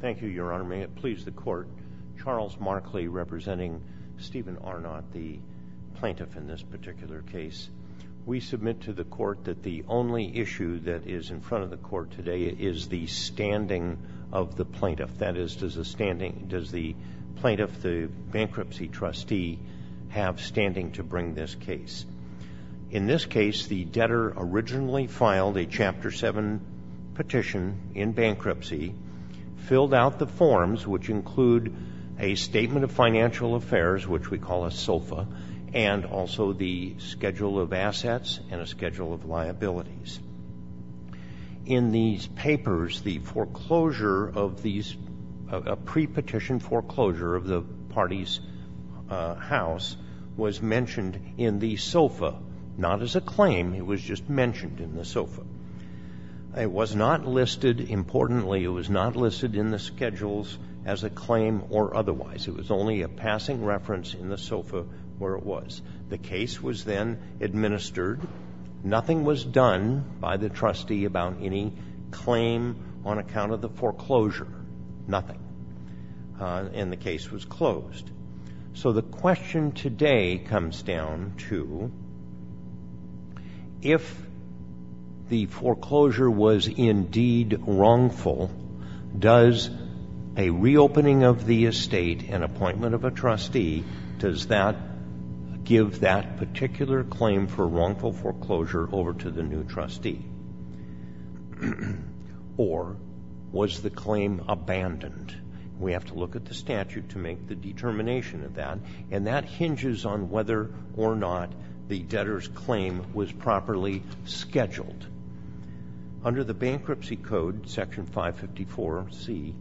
Thank you, Your Honor. May it please the Court, Charles Markley representing Stephen Arnot, the plaintiff in this particular case. We submit to the Court that the only issue that is in front of the Court today is the standing of the plaintiff. That is, does the plaintiff, the bankruptcy trustee, have standing to bring this case? In this case, the debtor originally filed a Chapter 7 petition in bankruptcy, filled out the forms, which include a Statement of Financial Affairs, which we call a SOFA, and also the Schedule of Assets and a Schedule of Liabilities. In these papers, the foreclosure of these, a pre-petition foreclosure of the SOFA. It was not listed, importantly, it was not listed in the Schedules as a claim or otherwise. It was only a passing reference in the SOFA where it was. The case was then administered. Nothing was done by the trustee about any claim on account of the foreclosure. Nothing. And the case was closed. So the question today comes down to, if the foreclosure was indeed wrongful, does a reopening of the estate, an appointment of a trustee, does that give that particular claim for wrongful foreclosure over to the new trustee? Or, was the claim abandoned? We have to look at the statute to make the determination of that, and that hinges on whether or not the debtor's claim was properly scheduled. Under the Bankruptcy Code, Section 554C,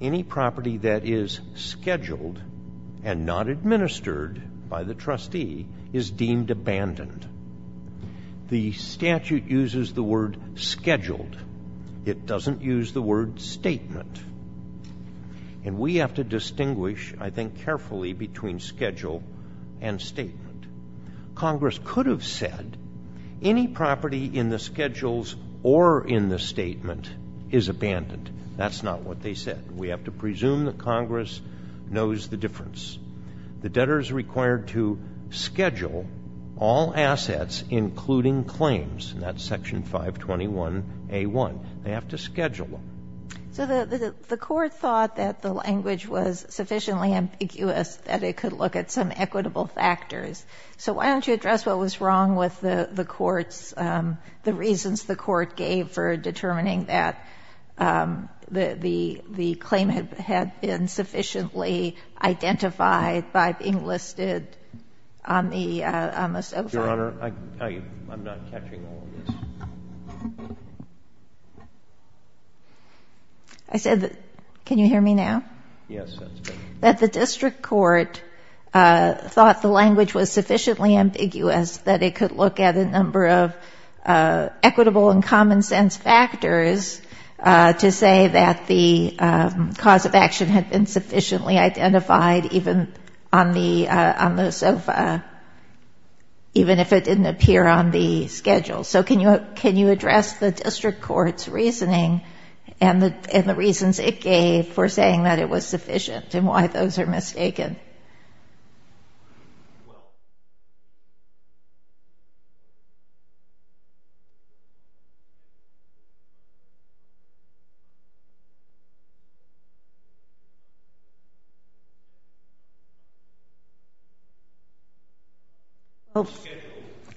any property that is scheduled and not administered by the trustee is deemed abandoned. The statute uses the word scheduled. It doesn't use the word statement. And we have to distinguish, I think, carefully between schedule and statement. Congress could have said, any property in the schedules or in the statement is abandoned. That's not what they said. We have to presume that Congress knows the difference. The debtor is required to schedule all assets, including claims. And that's Section 521A1. They have to schedule them. So the Court thought that the language was sufficiently ambiguous that it could look at some equitable factors. So why don't you address what was wrong with the Court's, the reasons the Court gave for determining that the claim had been sufficiently identified by being listed on the sofa? Your Honor, I'm not catching all of this. I said, can you hear me now? Yes, that's better. That the district court thought the language was sufficiently ambiguous that it could look at a number of equitable and common-sense factors to say that the cause of action had been sufficiently identified even on the sofa, even if it didn't appear on the schedule. So can you address the district court's reasoning and the reasons it gave for saying that it was sufficient and why those are mistaken?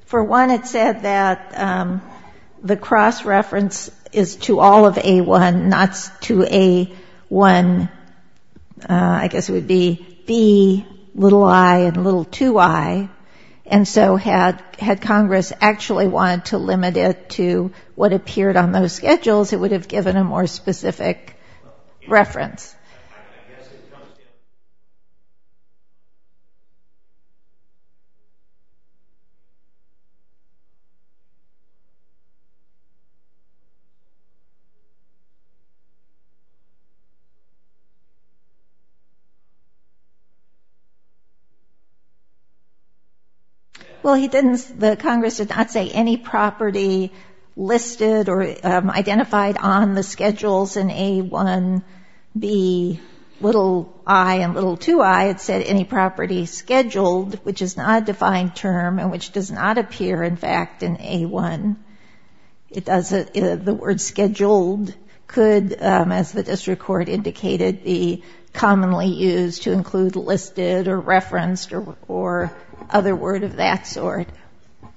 For one, it said that the cross-reference is to all of A1, not to A1, I guess it would be B, little i and little 2i. And so had Congress actually wanted to limit it to what appeared on those schedules, it would have given a more specific reference. Well, the Congress did not say any property listed or identified on the schedules in A1, B, little i and little 2i. It said any property scheduled, which is not a defined term and which does not appear in fact in A1. The word scheduled could, as the district court indicated, be commonly used to include listed or referenced or other word of that sort. All right.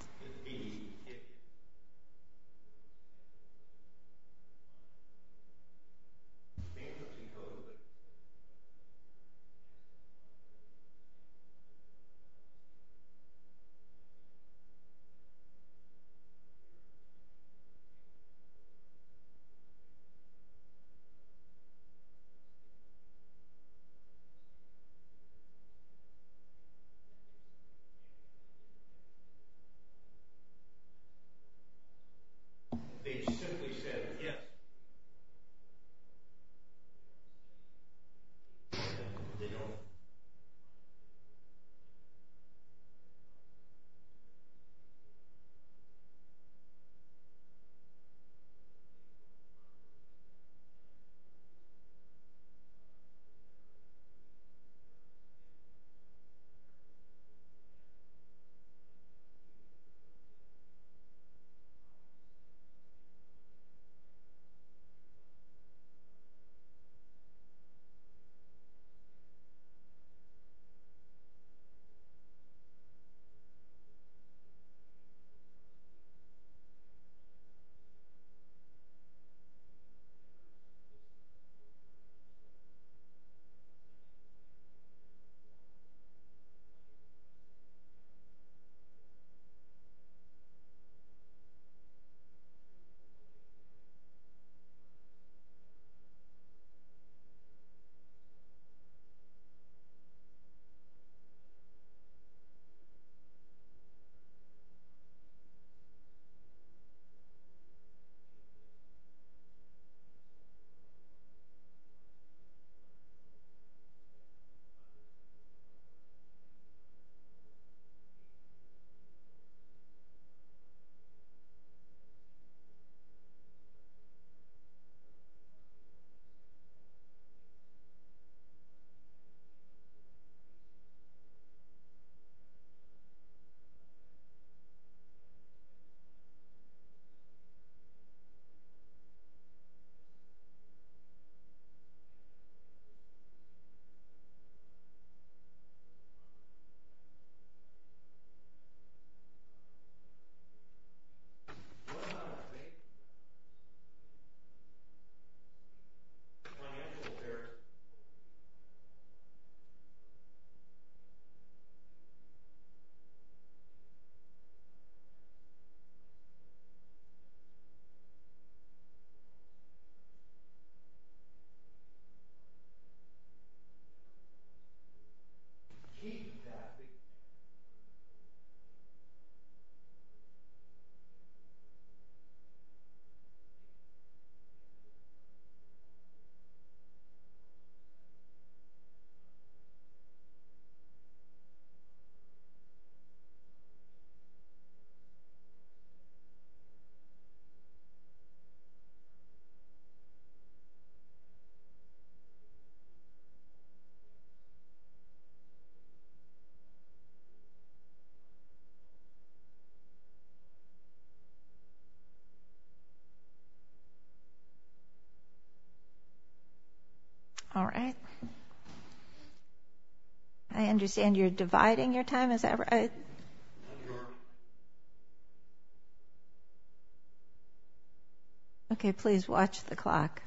I understand you're dividing your time. Okay, please watch the clock.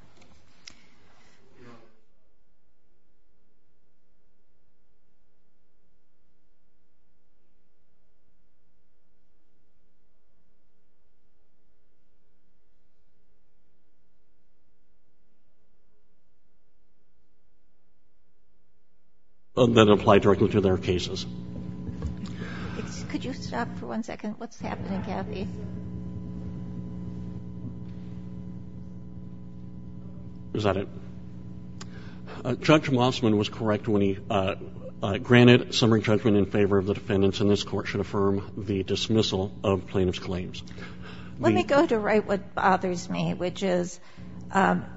And then apply directly to their cases. Could you stop for one second? What's happening, Mr. Johnson? Let me go to right what bothers me, which is,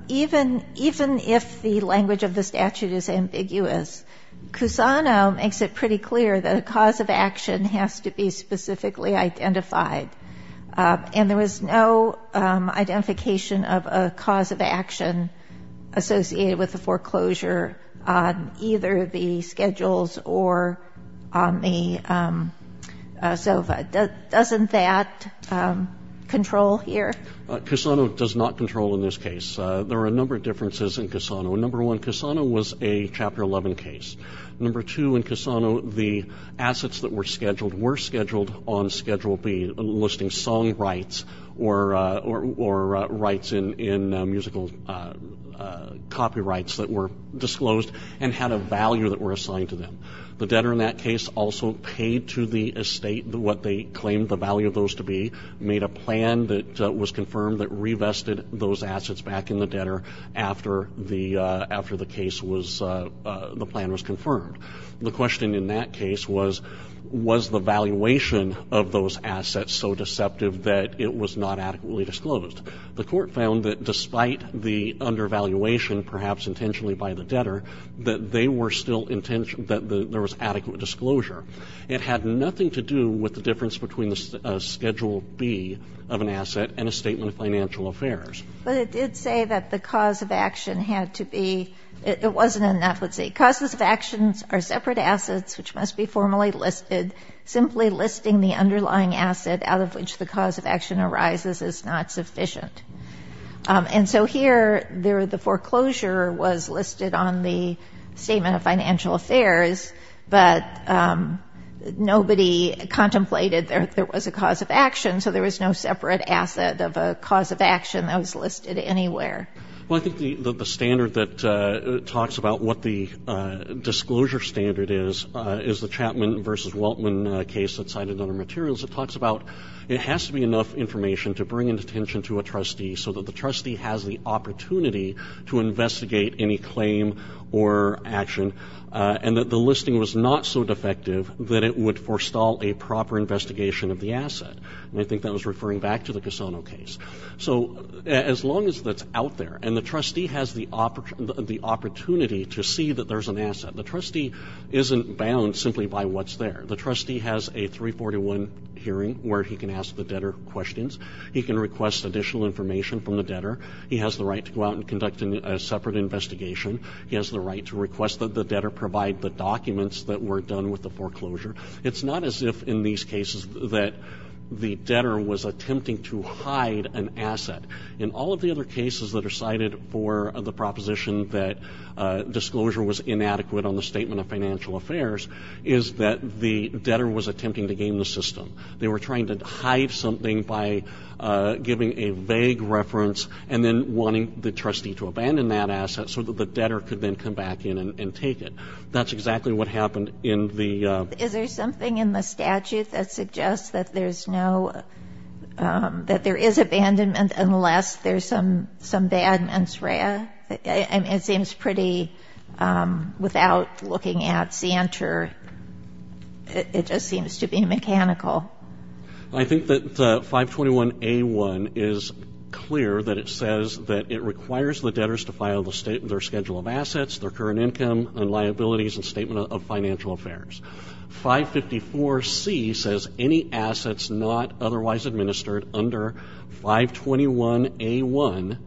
even if the language of the statute is ambiguous, Cusano makes it pretty clear that a cause of action has to be specifically identified. And there was no identification of a cause of action associated with the foreclosure on either the schedules or on the SOFA. Doesn't that control here? Cusano does not control in this case. There are a number of differences in Cusano. Number one, Cusano was a Chapter 11 case. Number two, in Cusano, the assets that were scheduled were scheduled on Schedule B, listing song rights or rights in musical copyrights that were disclosed and had a value that were assigned to them. The debtor in that case also paid to the estate what they claimed the value of those to be, made a plan that was confirmed that revested those assets back in the debtor after the plan was confirmed. The question in that case was, was the valuation of those assets so deceptive that it was not adequately disclosed? The Court found that despite the undervaluation, perhaps intentionally by the debtor, that they were still intentional, that there was adequate disclosure. It had nothing to do with the difference between the Schedule B of an asset and a statement of financial affairs. But it did say that the cause of action had to be, it wasn't in that. Let's see. Causes of actions are separate assets which must be formally listed. Simply listing the underlying asset out of which the cause of action arises is not sufficient. And so here, the foreclosure was listed on the statement of financial affairs, but nobody contemplated that there was a cause of action, so there was no separate asset of a cause of action that was listed anywhere. Well, I think the standard that talks about what the disclosure standard is, is the Chapman v. Waltman case that's cited in other materials. It talks about, it has to be enough information to bring into attention to a trustee so that the trustee has the opportunity to investigate any claim or action and that the listing was not so defective that it would forestall a proper investigation of the asset. And I think that was referring back to the Cassano case. So as long as that's out there and the trustee has the opportunity to see that there's an asset, it's there. The trustee has a 341 hearing where he can ask the debtor questions. He can request additional information from the debtor. He has the right to go out and conduct a separate investigation. He has the right to request that the debtor provide the documents that were done with the foreclosure. It's not as if in these cases that the debtor was attempting to hide an asset. In all of the other cases that are cited for the proposition that disclosure was inadequate on the Statement of Financial Affairs is that the debtor was attempting to game the system. They were trying to hide something by giving a vague reference and then wanting the trustee to abandon that asset so that the debtor could then come back in and take it. That's exactly what happened in the... Is there something in the statute that suggests that there's no, that there is abandonment unless there's some bad mens rea? It seems pretty, without looking at Santer, it just seems to be mechanical. I think that the 521A1 is clear that it says that it requires the debtors to file their schedule of assets, their current income and liabilities and Statement of Financial Affairs. 554C says any assets not otherwise administered under 521A1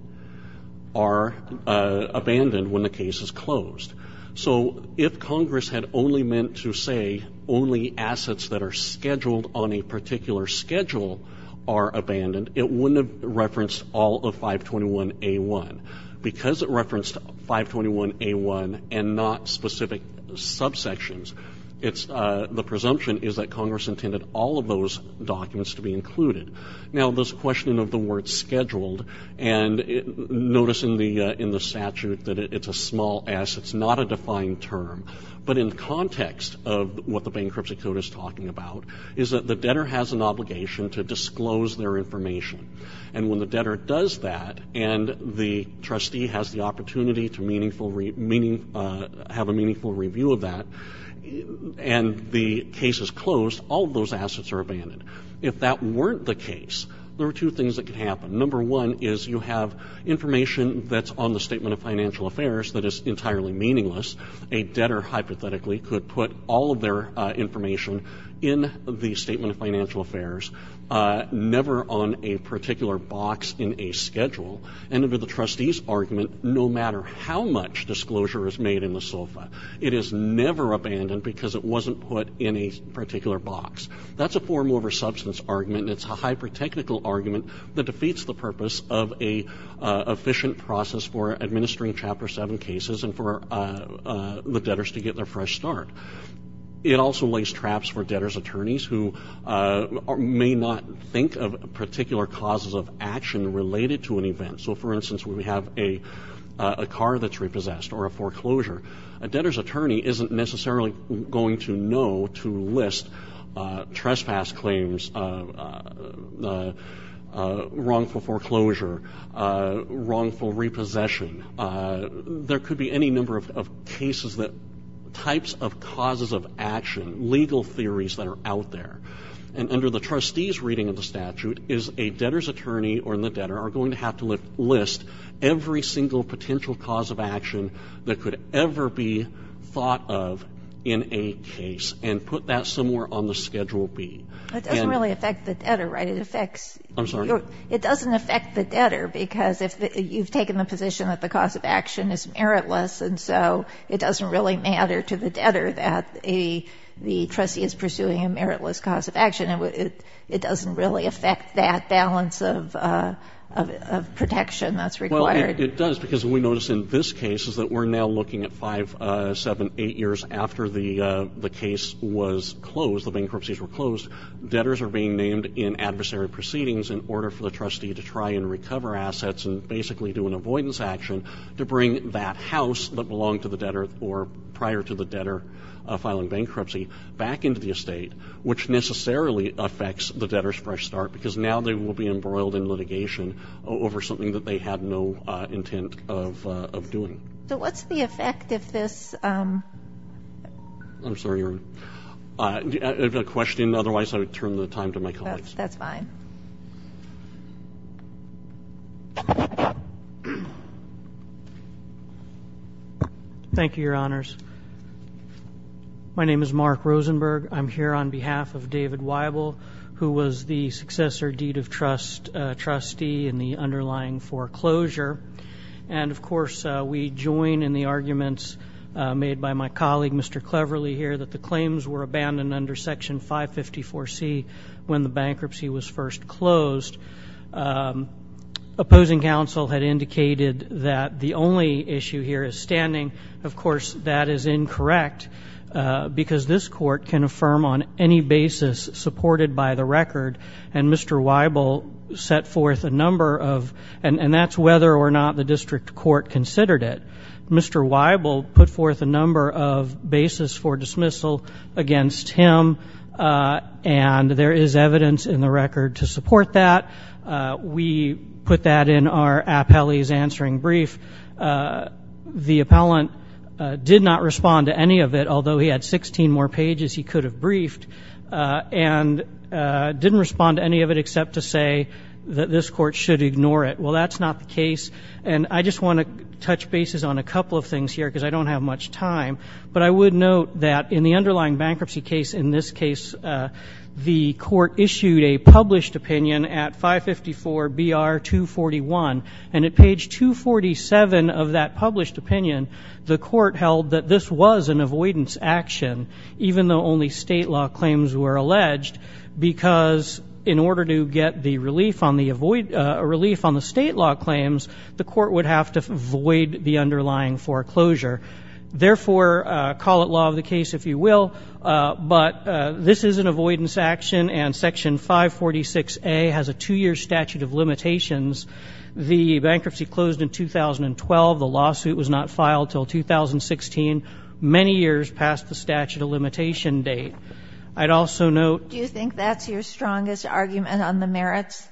are abandoned when the case is closed. So if Congress had only meant to say only assets that are scheduled on a particular schedule are abandoned, it wouldn't have referenced all of 521A1. Because it referenced 521A1 and not specific subsections, the presumption is that Congress intended all of those documents to be included. Now this question of the word scheduled, and notice in the statute that it's a small s. It's not a defined term. But in context of what the Bankruptcy Code is talking about, is that the debtor has an obligation to disclose their information. And when the debtor does that and the trustee has the opportunity to have a meaningful review of that, and the case is closed, all of those assets are abandoned. If that weren't the case, there are two things that could happen. Number one is you have information that's on the Statement of Financial Affairs that is entirely meaningless. A debtor hypothetically could put all of their information in the Statement of Financial Affairs, never on a particular box in a schedule, and under the trustee's argument, no matter how much disclosure is made in the SOFA, it is never abandoned because it wasn't put in a particular box. That's a form over substance argument and it's a hyper-technical argument that defeats the purpose of an efficient process for administering Chapter 7 cases and for the debtors to get their fresh start. It also lays traps for debtors' attorneys who may not think of particular causes of action related to an event. So for instance, when we have a car that's repossessed or a foreclosure, a debtor's attorney isn't necessarily going to know to list trespass claims, wrongful foreclosure, wrongful repossession. There could be any number of cases that types of causes of action, legal theories that are out there. And under the trustee's reading of the statute, is a debtor's attorney or the debtor are going to have to list every single potential cause of action that could ever be thought of in a case and put that somewhere on the Schedule B. But it doesn't really affect the debtor, right? It affects... I'm sorry? It doesn't affect the debtor because you've taken the position that the cause of action is meritless and so it doesn't really matter to the debtor that the trustee is pursuing a meritless cause of action. It doesn't really affect that balance of protection that's required. It does because we notice in this case is that we're now looking at five, seven, eight years after the case was closed, the bankruptcies were closed, debtors are being named in adversary proceedings in order for the trustee to try and recover assets and basically do an avoidance action to bring that house that belonged to the debtor or prior to the debtor filing bankruptcy back into the estate, which necessarily affects the debtor's fresh start because now they will be embroiled in litigation over something that they had no intent of doing. So what's the effect if this... I'm sorry, Your Honor. If you have a question, otherwise I would turn the time to my colleagues. That's fine. Thank you, Your Honors. My name is Mark Rosenberg. I'm here on behalf of David Weibel, who was the successor deed of trust trustee in the underlying foreclosure. And of course, we join in the arguments made by my colleague, Mr. Cleverly, here that the claims were abandoned under Section 554C when the bankruptcy was first closed. Opposing counsel had indicated that the only issue here is standing. Of course, that is incorrect because this court can affirm on any basis supported by the record, and Mr. Weibel set forth a number of... And that's whether or not the district court considered it. Mr. Weibel put forth a number of basis for dismissal against him, and there is evidence in the record to support that. We put that in our appellee's answering brief. The appellant did not respond to any of it, although he had 16 more pages he could have briefed, and didn't respond to any of it except to say that this court should ignore it. Well, that's not the case, and I just want to touch basis on a couple of things here because I don't have much time, but I would note that in the underlying bankruptcy case, in this case, the court issued a published opinion at 554BR241, and at page 247 of that published opinion, the court held that this was an avoidance action even though only state law claims were alleged because in order to get the relief on the state law claims, the court would have to void the underlying foreclosure. Therefore, call it law of the case if you will, but this is an avoidance action, and section 546A has a two-year statute of limitations. The bankruptcy closed in 2012. The lawsuit was not filed until 2016, many years past the statute of limitation date. I'd also note... Do you think that's your strongest argument on the merits?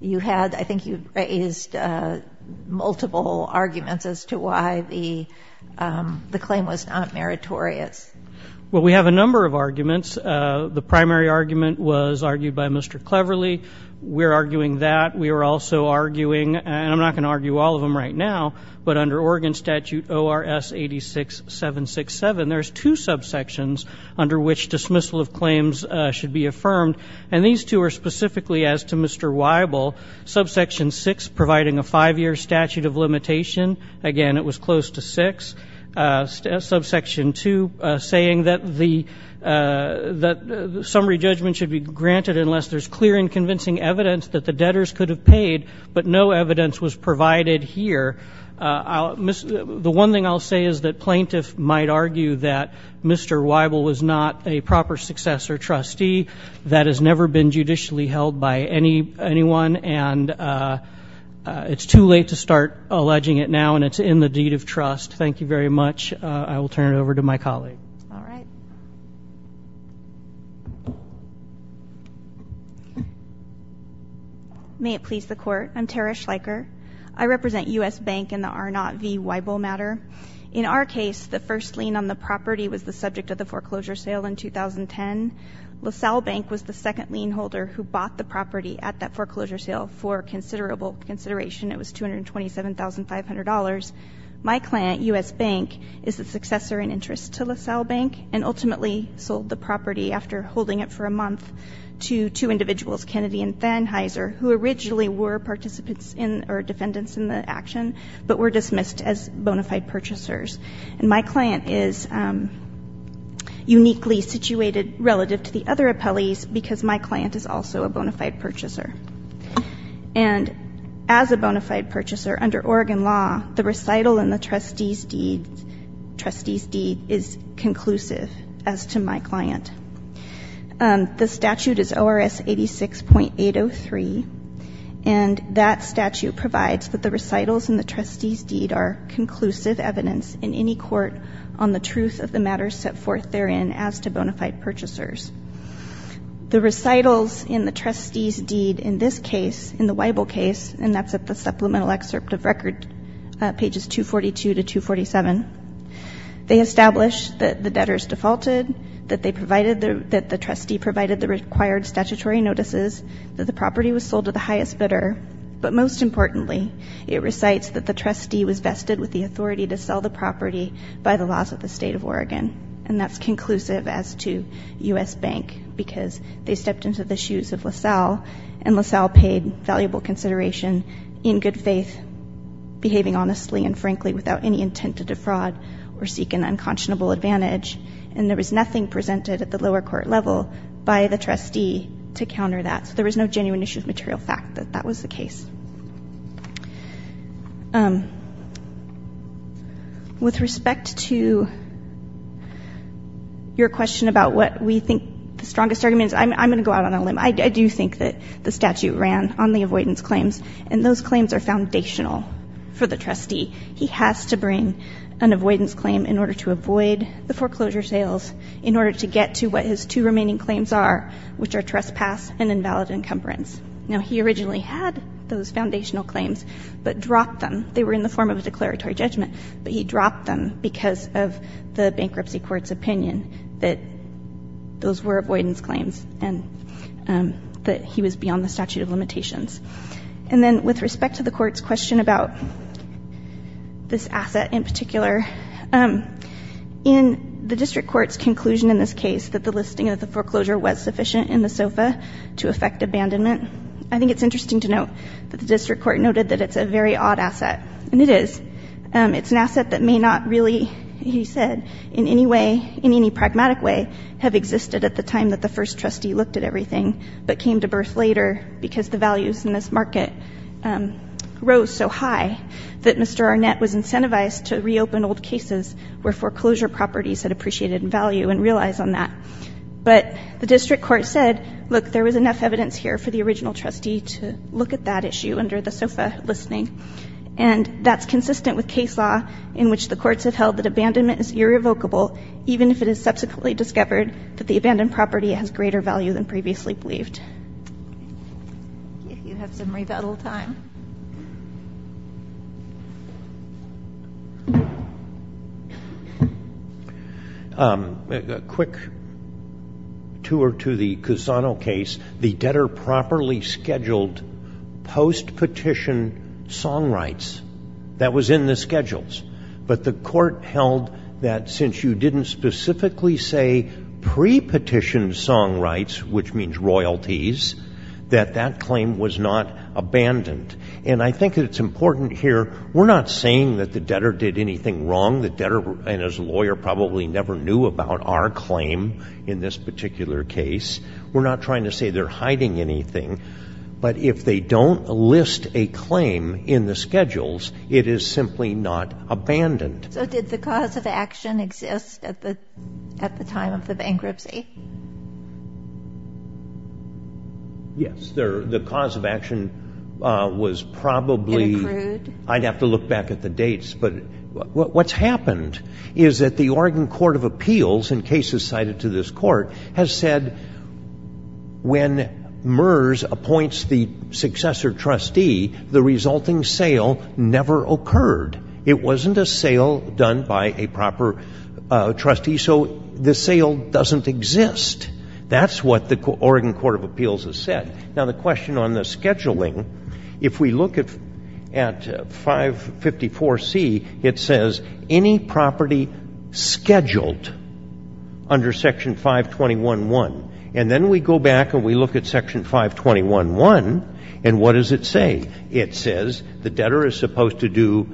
You had, I think you raised multiple arguments as to why the claim was not meritorious. Well, we have a number of arguments. The primary argument was argued by Mr. Cleverley. We're arguing that. We are also arguing, and I'm not going to argue all of them right now, but under Oregon Statute ORS86-767, there's two subsections under which dismissal of claims should be affirmed, and these two are specifically as to Mr. Weibel. Subsection 6, providing a five-year statute of limitation. Again, it was close to 6. Subsection 2, saying that the summary judgment should be granted unless there's clear and convincing evidence that the debtors could have paid, but no evidence was provided here. The one thing I'll say is that plaintiffs might argue that Mr. Weibel was not a proper successor trustee. That has never been judicially held by anyone, and it's too late to start alleging it now, and it's in the deed of trust. Thank you very much. I will turn it over to my colleague. May it please the Court. I'm Tara Schleicher. I represent U.S. Bank in the R0 v. Weibel matter. In our case, the first lien on the property was the subject of the foreclosure sale in 2010. LaSalle Bank was the second lien holder who bought the property at that foreclosure sale for consideration. It was $227,500. My client, U.S. Bank, is the successor in interest to LaSalle Bank and ultimately sold the property after holding it for a month to two individuals, Kennedy and Thanheiser, who originally were participants in or defendants in the action, but were dismissed as bona fide purchasers. And my client is uniquely situated relative to the other appellees because my client is also a bona fide purchaser. And as a bona fide purchaser, under Oregon law, the recital and the trustee's deed is conclusive as to my client. The statute is ORS 86.803, and that statute provides that the recitals and the trustee's deed are conclusive evidence in any court on the truth of the matters set forth therein as to bona fide purchasers. The recitals and the trustee's deed in this case, in the Weibel case, and that's at the supplemental excerpt of record, pages 242 to 247, they establish that the debtors defaulted, that the trustee provided the required statutory notices, that the property was sold to the highest bidder, but most importantly, it recites that the trustee was vested with the authority to sell the property by the laws of the state of Oregon. And that's conclusive as to U.S. Bank because they stepped into the shoes of LaSalle and LaSalle paid valuable consideration in good faith, behaving honestly and frankly without any intent to defraud or seek an unconscionable advantage, and there was nothing presented at the lower court level by the trustee to counter that. So there was no genuine issue of material fact that that was the case. With respect to your question about what we think the strongest argument is, I'm going to go out on a limb. I do think that the statute ran on the avoidance claims, and those claims are foundational for the trustee. He has to bring an avoidance claim in order to avoid the foreclosure sales in order to get to what his two remaining claims are, which are trespass and invalid encumbrance. Now, he originally had those foundational claims, but dropped them. They were in the form of a declaratory judgment, but he dropped them because of the bankruptcy court's opinion that those were avoidance claims and that he was beyond the statute of limitations. And then with respect to the court's question about this asset in particular, in the district court's conclusion in this case that the listing of the foreclosure was sufficient in the SOFA to effect abandonment, I think it's interesting to note that the district court noted that it's a very odd asset, and it is. It's an asset that may not really, he said, in any way, in any pragmatic way, have existed at the time that the first trustee looked at everything, but came to birth later because the values in this market rose so high that Mr. Arnett was incentivized to reopen old cases where foreclosure properties had appreciated value and realized on that. But the district court said, look, there was enough evidence here for the original trustee to look at that issue under the SOFA listing, and that's consistent with case law in which the courts have held that abandonment is irrevocable, even if it is subsequently discovered that the abandoned property has greater value than previously believed. If you have some rebuttal time. A quick tour to the Cusano case. The debtor properly scheduled post-petition song rights. That was in the schedules. But the court held that since you didn't specifically say pre-petition song rights, which means royalties, that that claim was not abandoned. And I think it's important here, we're not saying that the debtor did anything wrong. The debtor and his lawyer probably never knew about our claim in this particular case. We're not trying to say they're hiding anything. But if they don't list a claim in the schedules, it is simply not abandoned. So did the cause of action exist at the time of the bankruptcy? Yes. The cause of action was probably, I'd have to look back at the dates, but what's happened is that the Oregon Court of Appeals, in cases cited to this court, has said when MERS appoints the successor trustee, the resulting sale never occurred. It wasn't a sale done by a proper trustee. So the sale doesn't exist. That's what the Oregon Court of Appeals has said. Now, the question on the scheduling, if we look at 554C, it says any property scheduled under Section 521.1. And then we go back and we look at Section 521.1, and what does it say? It says the debtor is supposed to do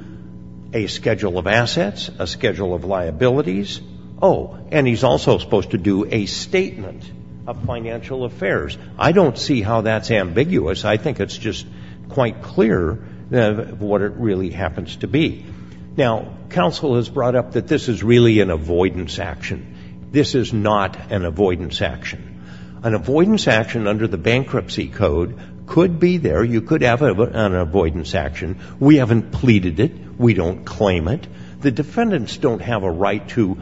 a schedule of assets, a schedule of liabilities. Oh, and he's also supposed to do a statement of financial affairs. I don't see how that's ambiguous. I think it's just quite clear what it really happens to be. Now, counsel has brought up that this is really an avoidance action. This is not an avoidance action. An avoidance action under the Bankruptcy Code could be there. You could have an avoidance action. We haven't pleaded it. We don't claim it. The defendants don't have a right to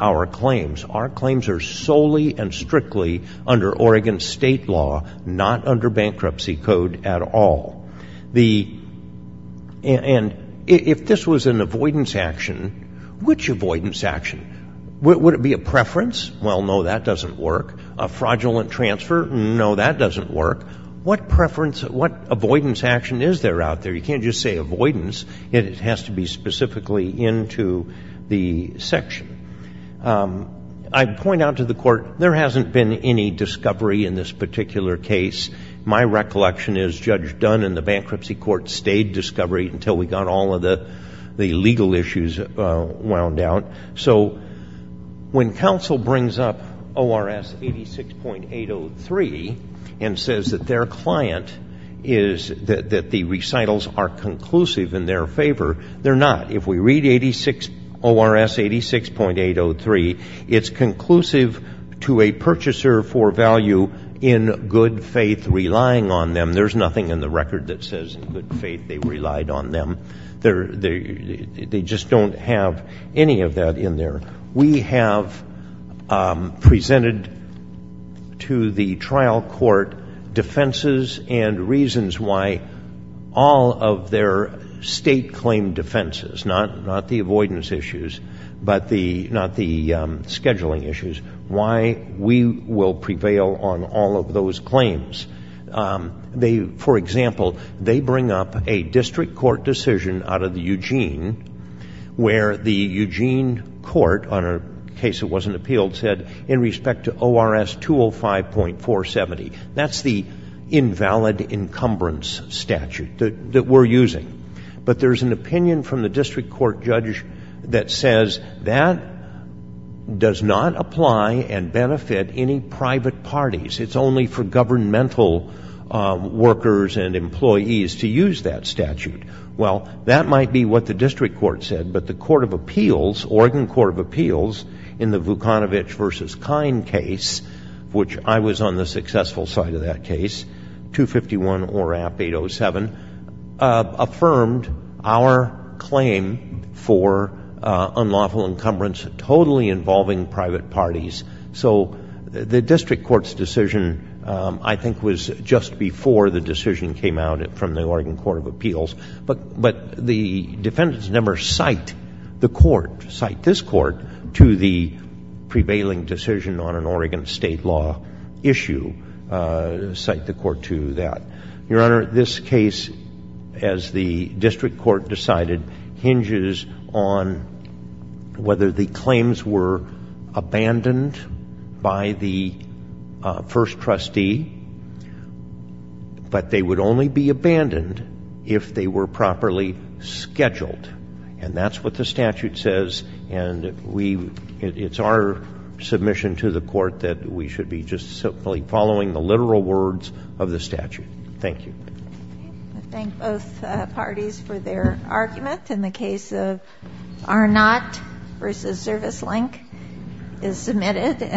our claims. Our claims are solely and strictly under Oregon State law, not under Bankruptcy Code at all. And if this was an avoidance action, which avoidance action? Would it be a preference? Well, no, that doesn't work. A fraudulent transfer? No, that doesn't work. What avoidance action is there out there? You can't just say avoidance. It has to be specifically into the section. I point out to the Court, there hasn't been any discovery in this particular case. My recollection is Judge Dunn and the Bankruptcy Court stayed discovery until we got all of the legal issues wound out. So when counsel brings up ORS 86.803 and says that their client is that the recitals are conclusive in their favor, they're not. If we read ORS 86.803, it's conclusive to a purchaser for value in good faith relying on them. There's nothing in the record that says in good faith they relied on them. They just don't have any of that in there. We have presented to the trial court defenses and reasons why all of their state claim defenses, not the avoidance issues, but not the scheduling issues, why we will prevail on all of those claims. For example, they bring up a district court decision out of the Eugene where the court, in case it wasn't appealed, said in respect to ORS 205.470, that's the invalid encumbrance statute that we're using. But there's an opinion from the district court judge that says that does not apply and benefit any private parties. It's only for governmental workers and employees to use that statute. Well, that might be what the district court said, but the court of appeals, Oregon Court of Appeals, in the Vukanovic v. Kine case, which I was on the successful side of that case, 251 ORAP 807, affirmed our claim for unlawful encumbrance totally involving private parties. So the district court's decision, I think, was just before the decision came out from the Oregon Court of Appeals. But the defendants never cite the court, cite this court, to the prevailing decision on an Oregon state law issue, cite the court to that. Your Honor, this case, as the district court decided, hinges on whether the claims were abandoned by the first trustee, but they would only be abandoned if they were properly scheduled. And that's what the statute says, and it's our submission to the court that we should be just simply following the literal words of the statute. Thank you. I thank both parties for their argument. In the case of ARNOT v. Service Link is submitted.